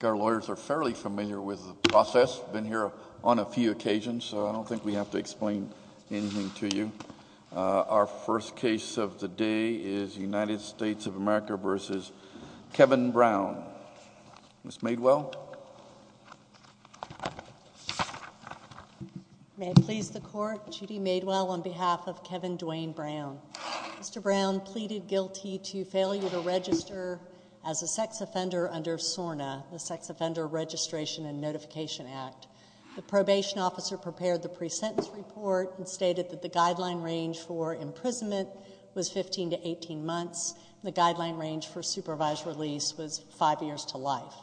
I think our lawyers are fairly familiar with the process. We've been here on a few occasions, so I don't think we have to explain anything to you. Our first case of the day is United States of America v. Kevin Brown. Ms. Maidwell? May it please the Court, Judy Maidwell on behalf of Kevin Dwayne Brown. Mr. Brown pleaded guilty to failure to register as a sex offender under SORNA, the Sex Offender Registration and Notification Act. The probation officer prepared the pre-sentence report and stated that the guideline range for imprisonment was 15 to 18 months. The guideline range for supervised release was five years to life.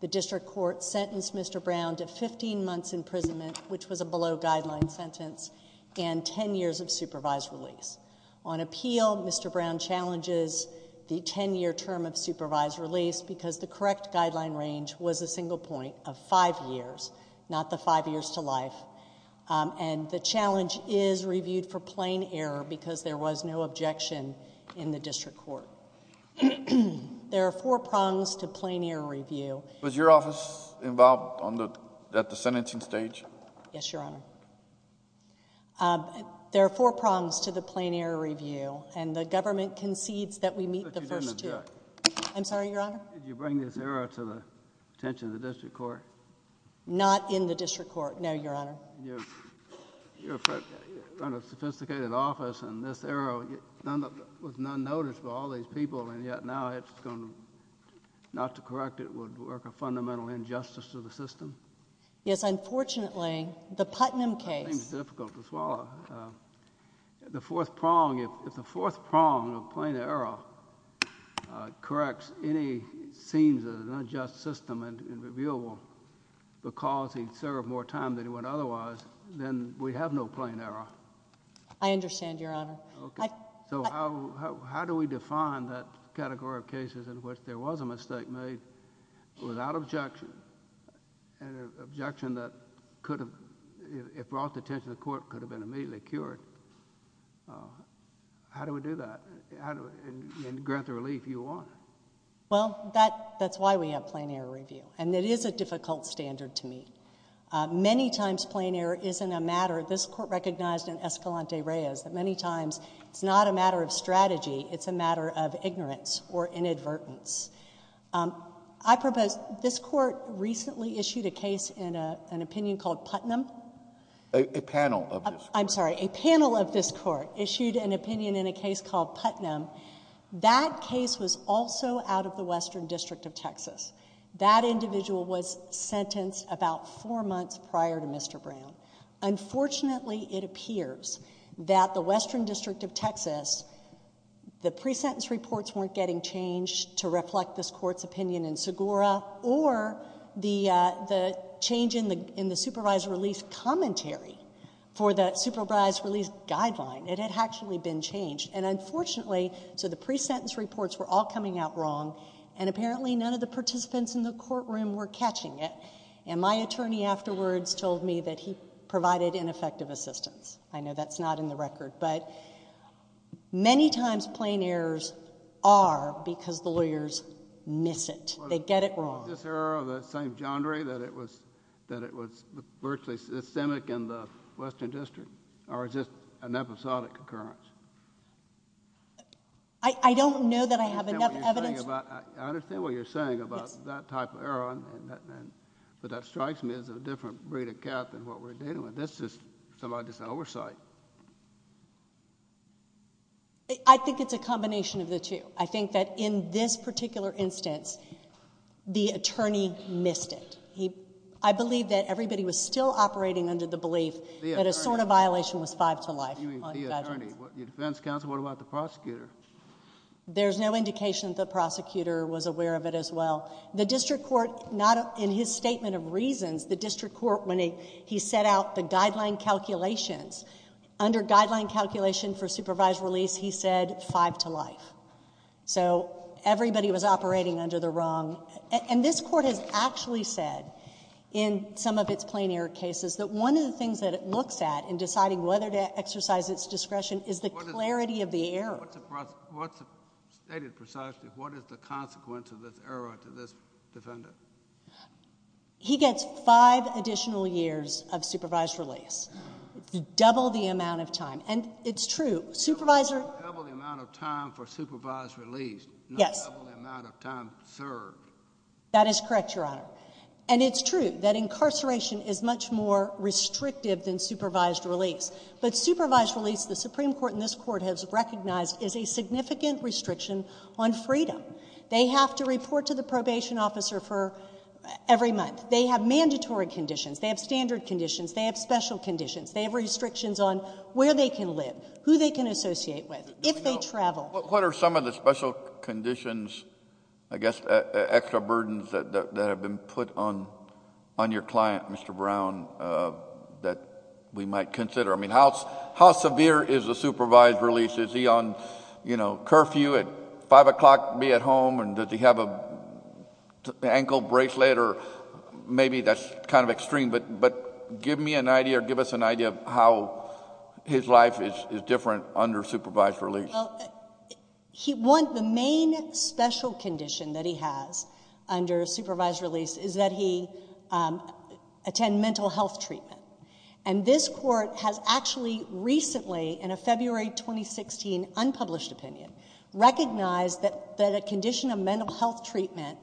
The district court sentenced Mr. Brown to 15 months imprisonment, which was a below guideline sentence, and 10 years of supervised release. On appeal, Mr. Brown challenges the 10-year term of supervised release because the correct guideline range was a single point of five years, not the five years to life. And the challenge is reviewed for plain error because there was no objection in the district court. There are four prongs to plain error review. Was your office involved at the sentencing stage? Yes, Your Honor. There are four prongs to the plain error review, and the government concedes that we meet the first two. But you didn't object? I'm sorry, Your Honor? Did you bring this error to the attention of the district court? Not in the district court, no, Your Honor. You're in front of a sophisticated office, and this error was not noticed by all these people, and yet now it's going to—not to correct it would work a fundamental injustice to the system? Yes, unfortunately. The Putnam case— Seems difficult to swallow. The fourth prong—if the fourth prong of plain error corrects any scenes of an unjust system and is reviewable because he served more time than he would otherwise, then we have no plain error. I understand, Your Honor. Okay. So how do we define that category of cases in which there was a mistake made without objection and an objection that could have—if brought to the attention of the court could have been immediately cured? How do we do that and grant the relief you want? Well, that's why we have plain error review, and it is a difficult standard to meet. Many times plain error isn't a matter—this Court recognized in Escalante-Reyes that many times it's not a matter of strategy, it's a matter of ignorance or inadvertence. I propose—this Court recently issued a case in an opinion called Putnam. A panel of this Court. I'm sorry. A panel of this Court issued an opinion in a case called Putnam. That case was also out of the Western District of Texas. That individual was sentenced about four months prior to Mr. Brown. Unfortunately, it appears that the Western District of Texas, the pre-sentence reports weren't getting changed to reflect this Court's opinion in Segura or the change in the supervised release commentary for the supervised release guideline. It had actually been changed, and unfortunately—so the pre-sentence reports were all coming out wrong, and apparently none of the participants in the courtroom were catching it, and my attorney afterwards told me that he provided ineffective assistance. I know that's not in the record, but many times plain errors are because the lawyers miss it. They get it wrong. Was this error of the same genre that it was virtually systemic in the Western District, or is this an episodic occurrence? I don't know that I have enough evidence— I understand what you're saying about that type of error, but that strikes me as a different breed of cat than what we're dealing with. That's just somebody's oversight. I think it's a combination of the two. I think that in this particular instance, the attorney missed it. I believe that everybody was still operating under the belief that a sort of violation was five to life. You mean the attorney? Your defense counsel? What about the prosecutor? There's no indication that the prosecutor was aware of it as well. The district court, in his statement of reasons, the district court, when he set out the guideline calculations, under guideline calculation for supervised release, he said five to life. So everybody was operating under the wrong—and this court has actually said in some of its plain error cases that one of the things that it looks at in deciding whether to exercise its discretion is the clarity of the error. What's stated precisely? What is the consequence of this error to this defendant? He gets five additional years of supervised release, double the amount of time. And it's true, supervisor— Double the amount of time for supervised release, not double the amount of time served. That is correct, Your Honor. And it's true that incarceration is much more restrictive than supervised release. But supervised release, the Supreme Court in this court has recognized, is a significant restriction on freedom. They have to report to the probation officer for every month. They have mandatory conditions. They have standard conditions. They have special conditions. They have restrictions on where they can live, who they can associate with, if they travel. What are some of the special conditions, I guess, extra burdens that have been put on your client, Mr. Brown, that we might consider? I mean, how severe is a supervised release? Is he on, you know, curfew at 5 o'clock to be at home? And does he have an ankle bracelet? Or maybe that's kind of extreme. But give me an idea or give us an idea of how his life is different under supervised release. Well, he won't—the main special condition that he has under supervised release is that he attend mental health treatment. And this court has actually recently, in a February 2016 unpublished opinion, recognized that a condition of mental health treatment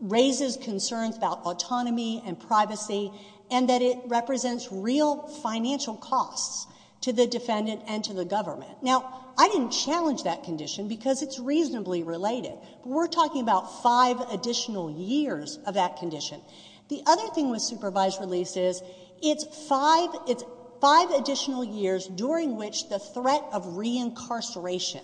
raises concerns about autonomy and privacy and that it represents real financial costs to the defendant and to the government. Now, I didn't challenge that condition because it's reasonably related. We're talking about five additional years of that condition. The other thing with supervised release is it's five additional years during which the threat of reincarceration,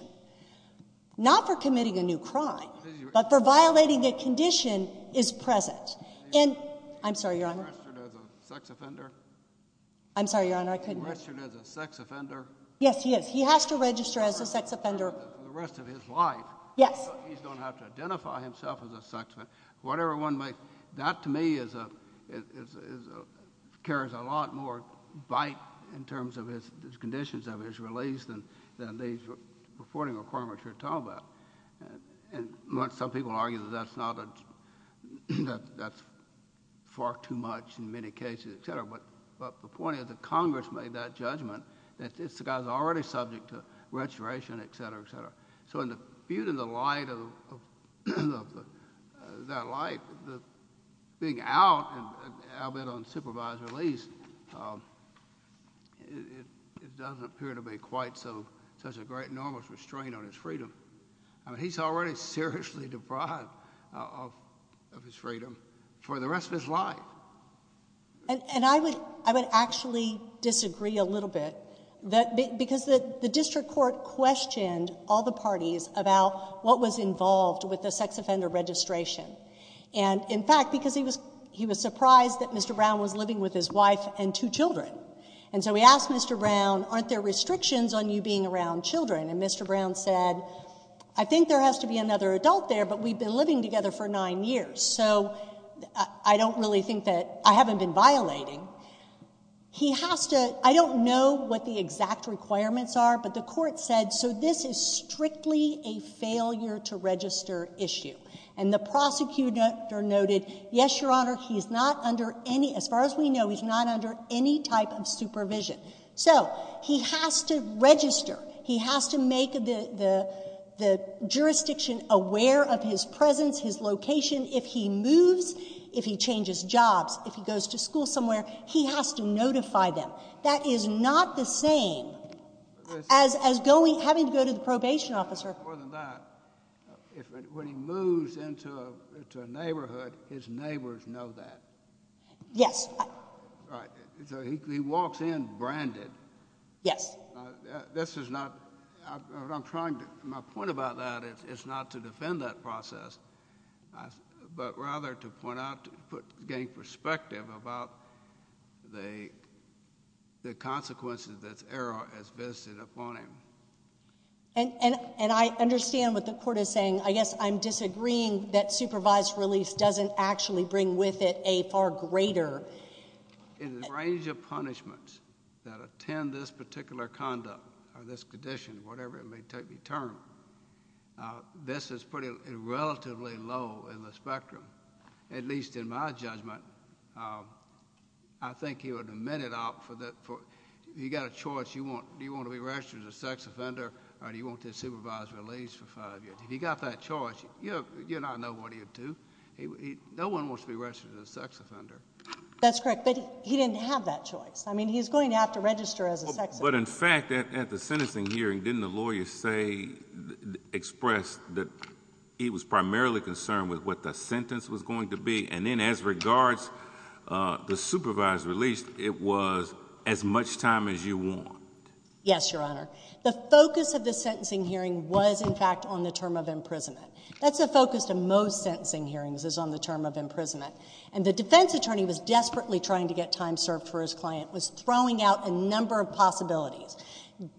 not for committing a new crime, but for violating a condition, is present. And—I'm sorry, Your Honor. Is he registered as a sex offender? I'm sorry, Your Honor, I couldn't— Is he registered as a sex offender? Yes, he is. He has to register as a sex offender for the rest of his life. Yes. So he's going to have to identify himself as a sex offender. That, to me, carries a lot more bite in terms of his conditions of his release than these reporting requirements we're talking about. Some people argue that that's far too much in many cases, et cetera. But the point is that Congress made that judgment that this guy is already subject to registration, et cetera, et cetera. So in the light of that light, being out and out on supervised release, it doesn't appear to be quite such a great enormous restraint on his freedom. I mean, he's already seriously deprived of his freedom for the rest of his life. And I would actually disagree a little bit. Because the district court questioned all the parties about what was involved with the sex offender registration. And, in fact, because he was surprised that Mr. Brown was living with his wife and two children. And so he asked Mr. Brown, aren't there restrictions on you being around children? And Mr. Brown said, I think there has to be another adult there, but we've been living together for nine years. So I don't really think that—I haven't been violating. He has to—I don't know what the exact requirements are, but the court said, so this is strictly a failure-to-register issue. And the prosecutor noted, yes, Your Honor, he's not under any—as far as we know, he's not under any type of supervision. So he has to register. He has to make the jurisdiction aware of his presence, his location. If he moves, if he changes jobs, if he goes to school somewhere, he has to notify them. That is not the same as having to go to the probation officer. More than that, when he moves into a neighborhood, his neighbors know that. Yes. Right. So he walks in branded. Yes. This is not—I'm trying to—my point about that is not to defend that process, but rather to point out, to gain perspective about the consequences this error has visited upon him. And I understand what the court is saying. I guess I'm disagreeing that supervised release doesn't actually bring with it a far greater— or this condition, whatever it may take to be termed. This is relatively low in the spectrum, at least in my judgment. I think he would amend it out for—if you've got a choice, do you want to be registered as a sex offender or do you want to supervise release for five years? If you've got that choice, you and I know what he would do. No one wants to be registered as a sex offender. That's correct. But he didn't have that choice. I mean, he's going to have to register as a sex offender. But, in fact, at the sentencing hearing, didn't the lawyer say—express that he was primarily concerned with what the sentence was going to be, and then as regards the supervised release, it was as much time as you want? Yes, Your Honor. The focus of the sentencing hearing was, in fact, on the term of imprisonment. That's the focus of most sentencing hearings is on the term of imprisonment. And the defense attorney was desperately trying to get time served for his client, was throwing out a number of possibilities.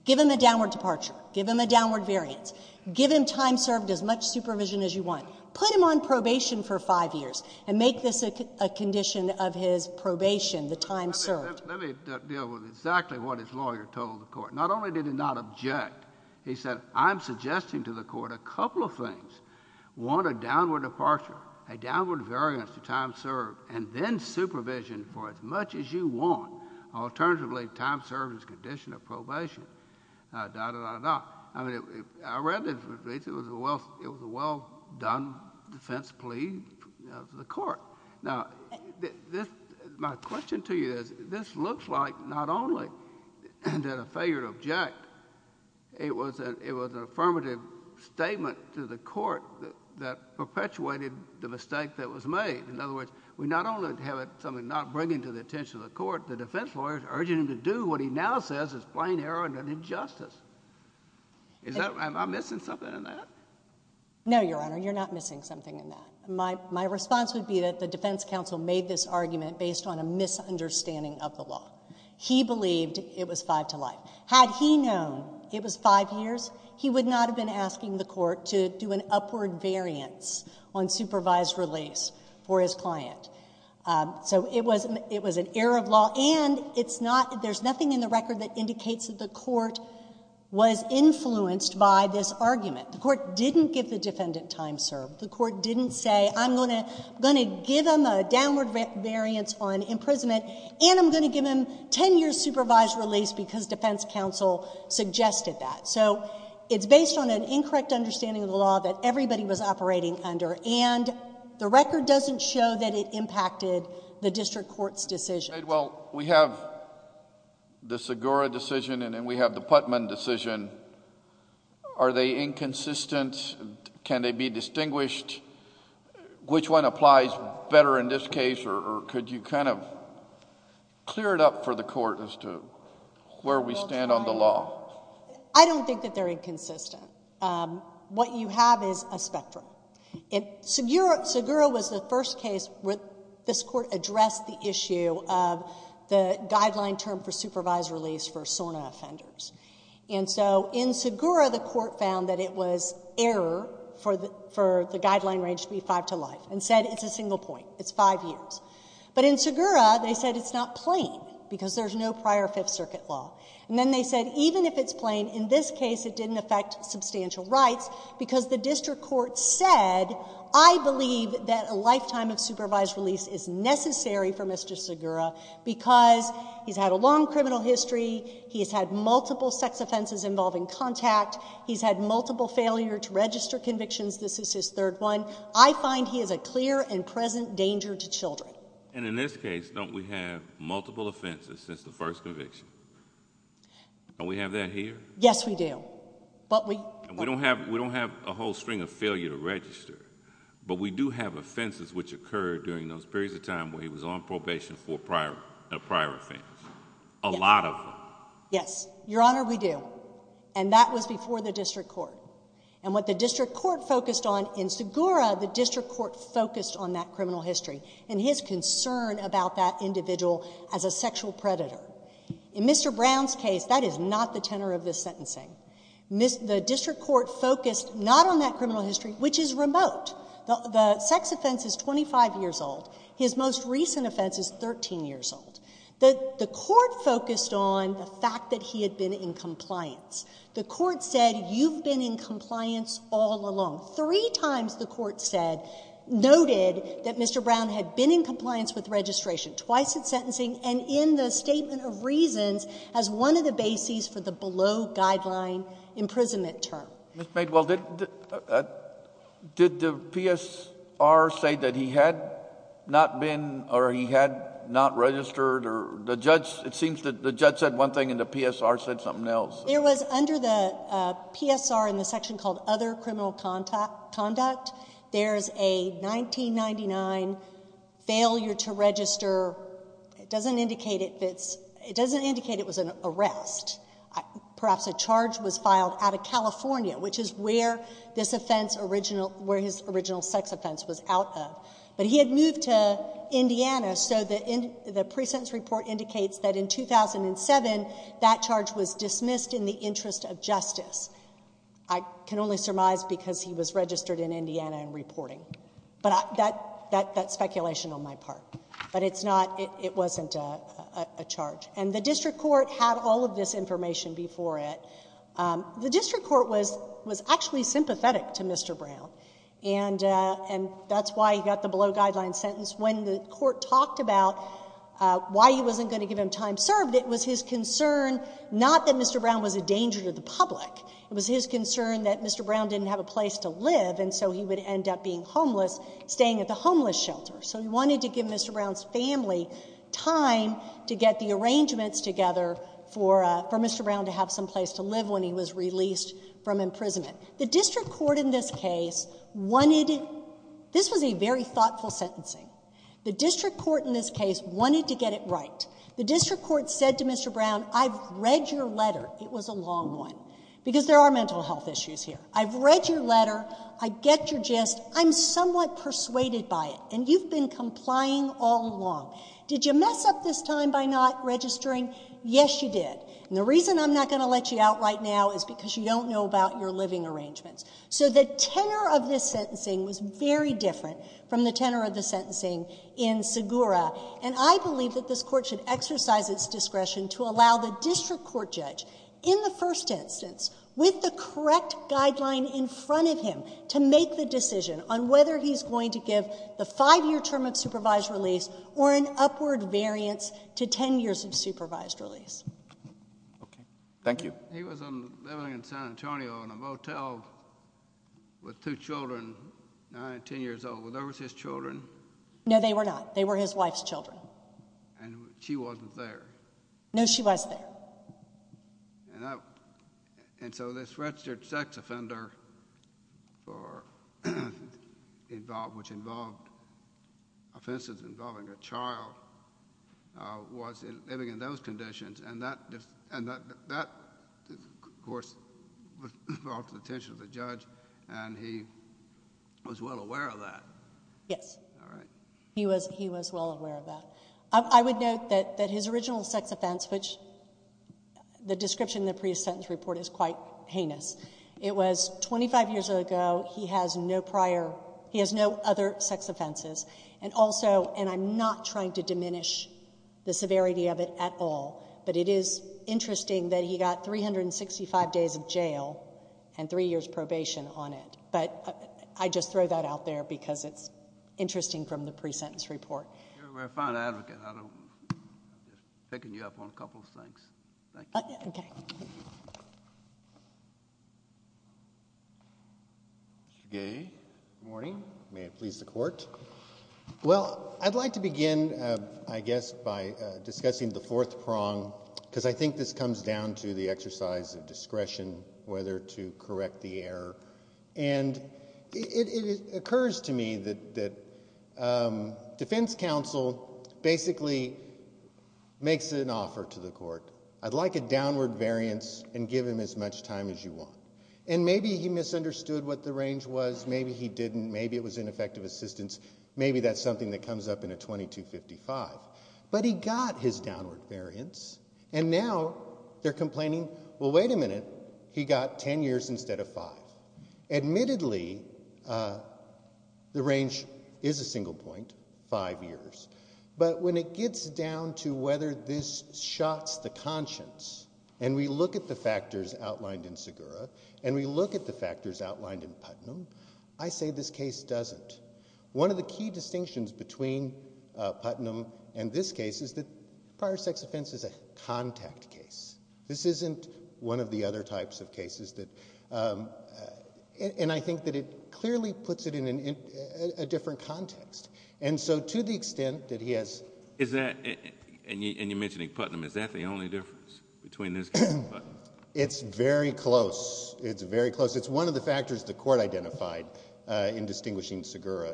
Give him a downward departure. Give him a downward variance. Give him time served, as much supervision as you want. Put him on probation for five years and make this a condition of his probation, the time served. Let me deal with exactly what his lawyer told the court. Not only did he not object, he said, I'm suggesting to the court a couple of things. One, a downward departure, a downward variance to time served, and then supervision for as much as you want. Alternatively, time served as a condition of probation. I read the release. It was a well-done defense plea to the court. Now, my question to you is, this looks like not only did a failure to object, it was an affirmative statement to the court that perpetuated the mistake that was made. In other words, we not only have something not bringing to the attention of the court, the defense lawyer is urging him to do what he now says is plain error and an injustice. Am I missing something in that? No, Your Honor. You're not missing something in that. My response would be that the defense counsel made this argument based on a misunderstanding of the law. He believed it was five to life. Had he known it was five years, he would not have been asking the court to do an upward variance on supervised release for his client. So it was an error of law, and there's nothing in the record that indicates that the court was influenced by this argument. The court didn't give the defendant time served. The court didn't say, I'm going to give him a downward variance on imprisonment, and I'm going to give him 10 years supervised release because defense counsel suggested that. So it's based on an incorrect understanding of the law that everybody was operating under, and the record doesn't show that it impacted the district court's decision. Well, we have the Segura decision, and then we have the Putman decision. Are they inconsistent? Can they be distinguished? Which one applies better in this case, or could you kind of clear it up for the court as to where we stand on the law? I don't think that they're inconsistent. What you have is a spectrum. Segura was the first case where this court addressed the issue of the guideline term for supervised release for SORNA offenders. And so in Segura, the court found that it was error for the guideline range to be five to life and said it's a single point, it's five years. But in Segura, they said it's not plain because there's no prior Fifth Circuit law. And then they said even if it's plain, in this case it didn't affect substantial rights because the district court said, I believe that a lifetime of supervised release is necessary for Mr. Segura because he's had a long criminal history, he's had multiple sex offenses involving contact, he's had multiple failure to register convictions, this is his third one. I find he is a clear and present danger to children. And in this case, don't we have multiple offenses since the first conviction? Don't we have that here? Yes, we do. We don't have a whole string of failure to register, but we do have offenses which occurred during those periods of time where he was on probation for a prior offense. A lot of them. Yes, Your Honor, we do. And that was before the district court. And what the district court focused on in Segura, the district court focused on that criminal history and his concern about that individual as a sexual predator. In Mr. Brown's case, that is not the tenor of this sentencing. The district court focused not on that criminal history, which is remote. The sex offense is 25 years old. His most recent offense is 13 years old. The court focused on the fact that he had been in compliance. The court said you've been in compliance all along. Three times the court noted that Mr. Brown had been in compliance with registration, twice in sentencing and in the statement of reasons as one of the bases for the below guideline imprisonment term. Ms. Maidwell, did the PSR say that he had not been or he had not registered? It seems that the judge said one thing and the PSR said something else. It was under the PSR in the section called other criminal conduct. There is a 1999 failure to register. It doesn't indicate it was an arrest. Perhaps a charge was filed out of California, which is where his original sex offense was out of. But he had moved to Indiana, so the present report indicates that in 2007 that charge was dismissed in the interest of justice. I can only surmise because he was registered in Indiana and reporting. But that's speculation on my part. But it's not, it wasn't a charge. And the district court had all of this information before it. The district court was actually sympathetic to Mr. Brown. And that's why he got the below guideline sentence. When the court talked about why he wasn't going to give him time served, it was his concern not that Mr. Brown was a danger to the public. It was his concern that Mr. Brown didn't have a place to live and so he would end up being homeless, staying at the homeless shelter. So he wanted to give Mr. Brown's family time to get the arrangements together for Mr. Brown to have some place to live when he was released from imprisonment. The district court in this case wanted, this was a very thoughtful sentencing. The district court in this case wanted to get it right. The district court said to Mr. Brown, I've read your letter. It was a long one. Because there are mental health issues here. I've read your letter. I get your gist. I'm somewhat persuaded by it. And you've been complying all along. Did you mess up this time by not registering? Yes, you did. And the reason I'm not going to let you out right now is because you don't know about your living arrangements. So the tenor of this sentencing was very different from the tenor of the sentencing in Segura. And I believe that this court should exercise its discretion to allow the district court judge, in the first instance, with the correct guideline in front of him, to make the decision on whether he's going to give the five-year term of supervised release or an upward variance to ten years of supervised release. Okay. Thank you. He was living in San Antonio in a motel with two children, nine, ten years old. Were those his children? No, they were not. They were his wife's children. And she wasn't there. No, she was there. And so this registered sex offender, which involved offenses involving a child, was living in those conditions. And that, of course, was brought to the attention of the judge, and he was well aware of that. Yes. All right. He was well aware of that. I would note that his original sex offense, which the description in the pre-sentence report is quite heinous, it was 25 years ago, he has no other sex offenses. And also, and I'm not trying to diminish the severity of it at all, but it is interesting that he got 365 days of jail and three years probation on it. But I just throw that out there because it's interesting from the pre-sentence report. You're a very fine advocate. I'm just picking you up on a couple of things. Thank you. Okay. Good morning. May it please the Court. Well, I'd like to begin, I guess, by discussing the fourth prong, because I think this comes down to the exercise of discretion, whether to correct the error. And it occurs to me that defense counsel basically makes an offer to the court. I'd like a downward variance and give him as much time as you want. And maybe he misunderstood what the range was. Maybe he didn't. Maybe it was ineffective assistance. Maybe that's something that comes up in a 2255. But he got his downward variance, and now they're complaining, well, wait a minute, he got ten years instead of five. Admittedly, the range is a single point, five years. But when it gets down to whether this shots the conscience, and we look at the factors outlined in Segura, and we look at the factors outlined in Putnam, I say this case doesn't. One of the key distinctions between Putnam and this case is that prior sex offense is a contact case. This isn't one of the other types of cases that ‑‑ and I think that it clearly puts it in a different context. And so to the extent that he has ‑‑ And you mentioned Putnam. Is that the only difference between this case and Putnam? It's very close. It's very close. It's one of the factors the court identified in distinguishing Segura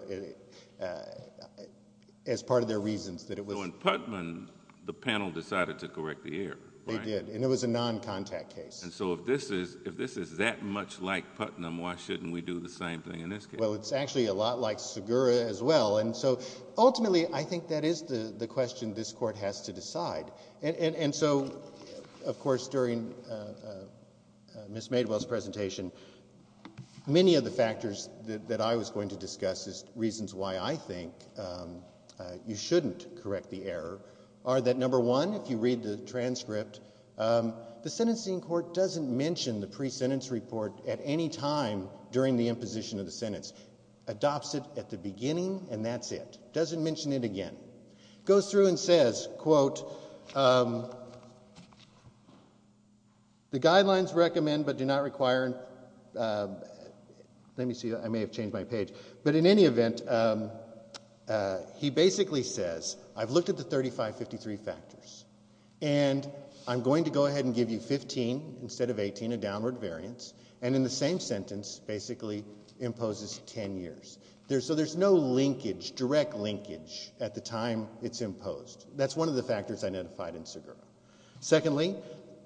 as part of their reasons. So in Putnam, the panel decided to correct the error. They did, and it was a noncontact case. And so if this is that much like Putnam, why shouldn't we do the same thing in this case? Well, it's actually a lot like Segura as well. And so ultimately I think that is the question this court has to decide. And so, of course, during Ms. Maidwell's presentation, many of the factors that I was going to discuss as reasons why I think you shouldn't correct the error are that, number one, if you read the transcript, the sentencing court doesn't mention the pre-sentence report at any time during the imposition of the sentence. Adopts it at the beginning, and that's it. Doesn't mention it again. Goes through and says, quote, the guidelines recommend but do not require. Let me see. I may have changed my page. But in any event, he basically says, I've looked at the 3553 factors, and I'm going to go ahead and give you 15 instead of 18, a downward variance, and in the same sentence basically imposes 10 years. So there's no linkage, direct linkage at the time it's imposed. That's one of the factors identified in Segura. Secondly,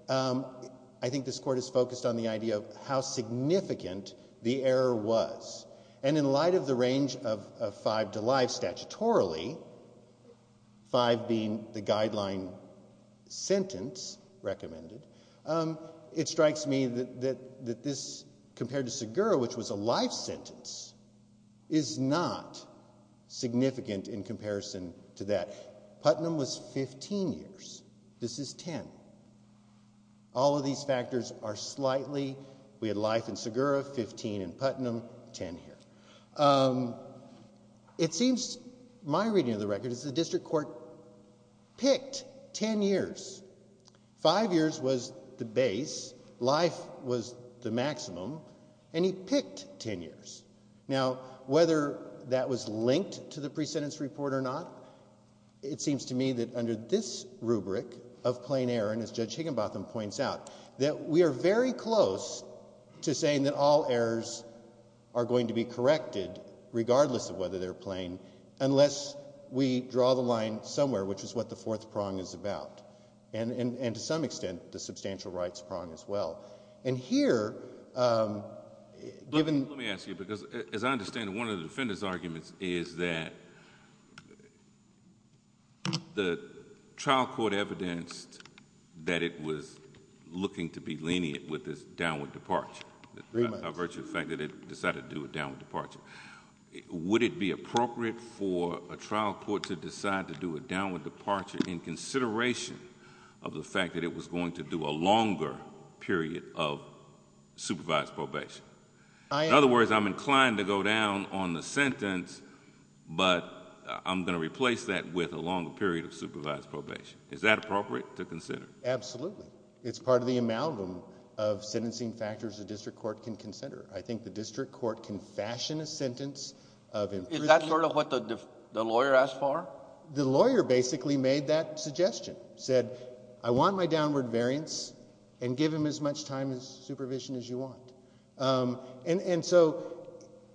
I think this court is focused on the idea of how significant the error was. And in light of the range of five to live statutorily, five being the guideline sentence recommended, it strikes me that this, compared to Segura, which was a life sentence, is not significant in comparison to that. Putnam was 15 years. This is 10. All of these factors are slightly, we had life in Segura, 15 in Putnam, 10 here. It seems, my reading of the record, is the district court picked 10 years. Five years was the base, life was the maximum, and he picked 10 years. Now, whether that was linked to the pre-sentence report or not, it seems to me that under this rubric of plain error, and as Judge Higginbotham points out, that we are very close to saying that all errors are going to be corrected, regardless of whether they're plain, unless we draw the line somewhere, which is what the fourth prong is about, and to some extent the substantial rights prong as well. And here, given— Let me ask you, because as I understand it, one of the defendants' arguments is that the trial court evidenced that it was looking to be lenient with this downward departure, by virtue of the fact that it decided to do a downward departure. Would it be appropriate for a trial court to decide to do a downward departure in consideration of the fact that it was going to do a longer period of supervised probation? In other words, I'm inclined to go down on the sentence, but I'm going to replace that with a longer period of supervised probation. Is that appropriate to consider? Absolutely. It's part of the amalgam of sentencing factors a district court can consider. I think the district court can fashion a sentence of— Is that sort of what the lawyer asked for? The lawyer basically made that suggestion, said, I want my downward variance, and give him as much time in supervision as you want. And so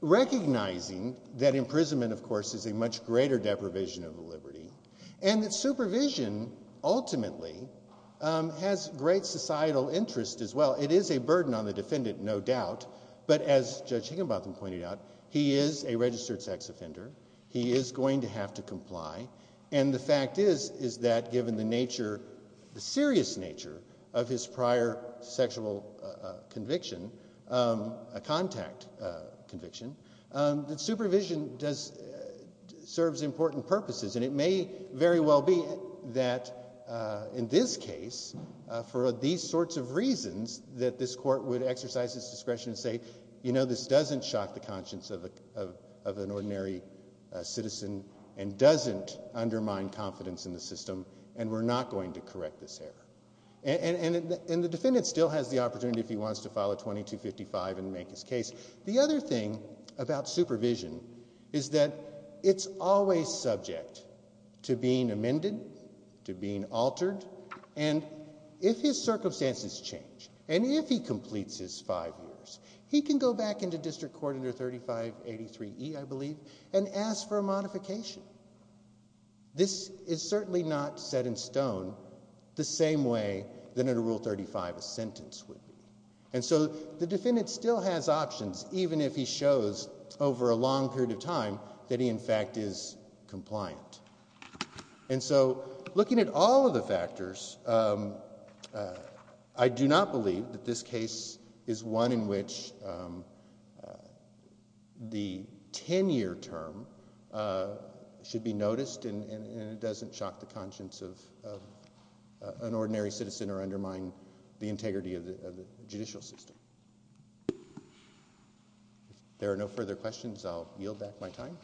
recognizing that imprisonment, of course, is a much greater deprivation of liberty, and that supervision ultimately has great societal interest as well. It is a burden on the defendant, no doubt. But as Judge Higginbotham pointed out, he is a registered sex offender. He is going to have to comply. And the fact is that given the serious nature of his prior sexual conviction, a contact conviction, that supervision serves important purposes. And it may very well be that in this case, for these sorts of reasons, that this court would exercise its discretion and say, you know, this doesn't shock the conscience of an ordinary citizen and doesn't undermine confidence in the system, and we're not going to correct this error. And the defendant still has the opportunity if he wants to file a 2255 and make his case. The other thing about supervision is that it's always subject to being amended, to being altered, and if his circumstances change, and if he completes his five years, he can go back into District Court under 3583E, I believe, and ask for a modification. This is certainly not set in stone the same way that under Rule 35 a sentence would be. And so the defendant still has options even if he shows over a long period of time that he in fact is compliant. And so looking at all of the factors, I do not believe that this case is one in which the 10-year term should be noticed and it doesn't shock the conscience of an ordinary citizen or undermine the integrity of the judicial system. If there are no further questions, I'll yield back my time.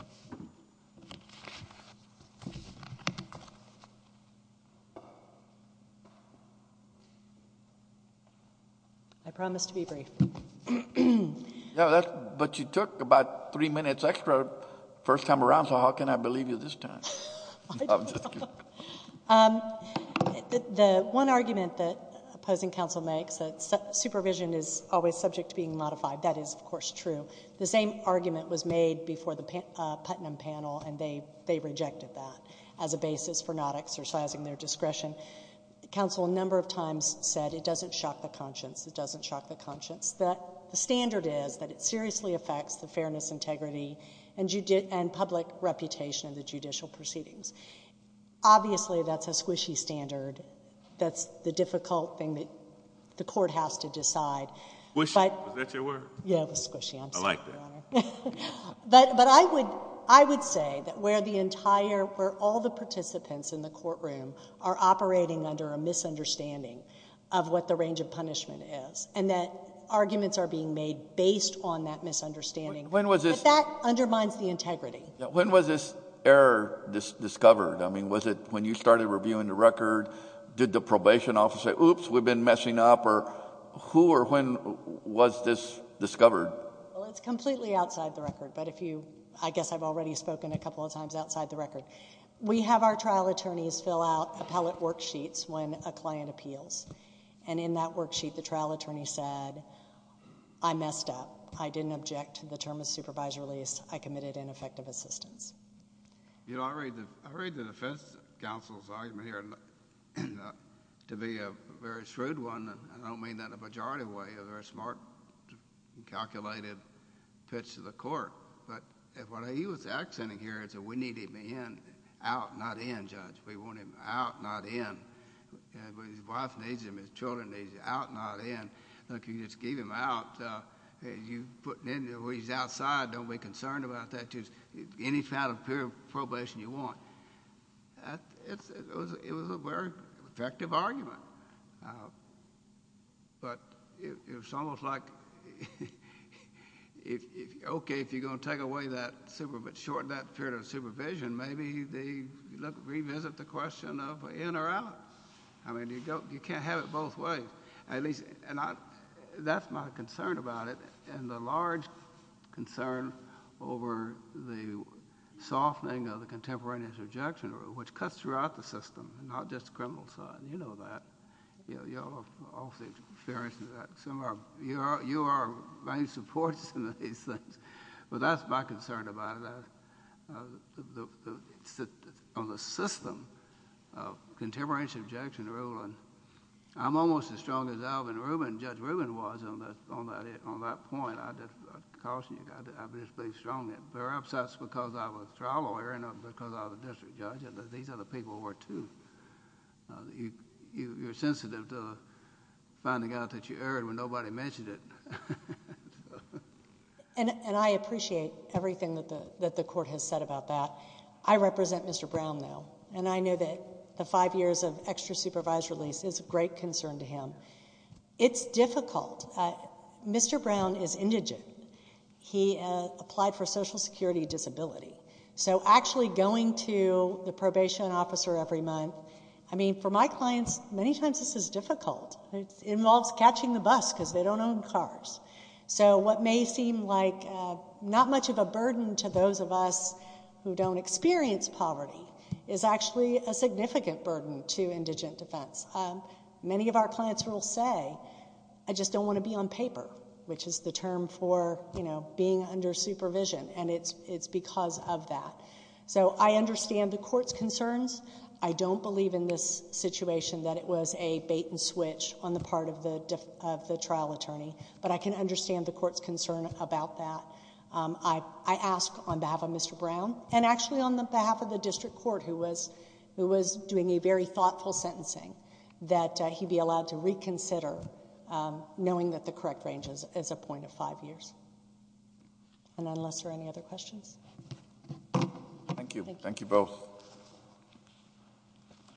I promise to be brief. But you took about three minutes extra first time around, so how can I believe you this time? I don't know. The one argument that opposing counsel makes, that supervision is always subject to being modified, that is, of course, true. The same argument was made before the Putnam panel, and they rejected that as a basis for not exercising their discretion. Counsel a number of times said it doesn't shock the conscience, it doesn't shock the conscience. The standard is that it seriously affects the fairness, integrity, and public reputation of the judicial proceedings. Obviously, that's a squishy standard. That's the difficult thing that the court has to decide. Squishy, is that your word? Yeah, it was squishy. I'm sorry, Your Honor. I like that. But I would say that where all the participants in the courtroom are operating under a misunderstanding of what the range of punishment is and that arguments are being made based on that misunderstanding. But that undermines the integrity. When was this error discovered? I mean, was it when you started reviewing the record? Did the probation officer say, oops, we've been messing up? Or who or when was this discovered? Well, it's completely outside the record, but if you... I guess I've already spoken a couple of times outside the record. We have our trial attorneys fill out appellate worksheets when a client appeals, and in that worksheet, the trial attorney said, I messed up. I didn't object to the term of supervisor release. I committed ineffective assistance. You know, I read the defense counsel's argument here, and to be a very shrewd one, I don't mean that in a majority way, a very smart, calculated pitch to the court. But what he was accenting here is that we need him in, out, not in, Judge. We want him out, not in. His wife needs him, his children need him, out, not in. Look, you just gave him out. You put him where he's outside. Don't be concerned about that. Any kind of period of probation you want. It was a very effective argument, but it was almost like, okay, if you're going to take away that period of supervision, maybe revisit the question of in or out. I mean, you can't have it both ways. That's my concern about it, and the large concern over the softening of the contemporaneous objection rule, which cuts throughout the system and not just the criminal side. You know that. You all seem to be very familiar with that. You are my main supporters in these things. But that's my concern about it, on the system of contemporaneous objection rule. I'm almost as strong as Alvin Rubin, Judge Rubin was on that point. I caution you, I'm just being strong. They're upset because I was a trial lawyer and because I was a district judge, and these other people were too. You're sensitive to finding out that you erred when nobody mentioned it. And I appreciate everything that the court has said about that. I represent Mr. Brown now, and I know that the five years of extra supervised release is a great concern to him. It's difficult. Mr. Brown is indigent. He applied for Social Security Disability. So actually going to the probation officer every month, I mean, for my clients, many times this is difficult. It involves catching the bus because they don't own cars. So what may seem like not much of a burden to those of us who don't experience poverty is actually a significant burden to indigent defense. Many of our clients will say, I just don't want to be on paper, which is the term for being under supervision, and it's because of that. So I understand the court's concerns. I don't believe in this situation that it was a bait and switch on the part of the trial attorney, but I can understand the court's concern about that. I ask on behalf of Mr. Brown, and actually on behalf of the district court, who was doing a very thoughtful sentencing, that he be allowed to reconsider knowing that the correct range is a point of five years. And unless there are any other questions. Thank you. Thank you both.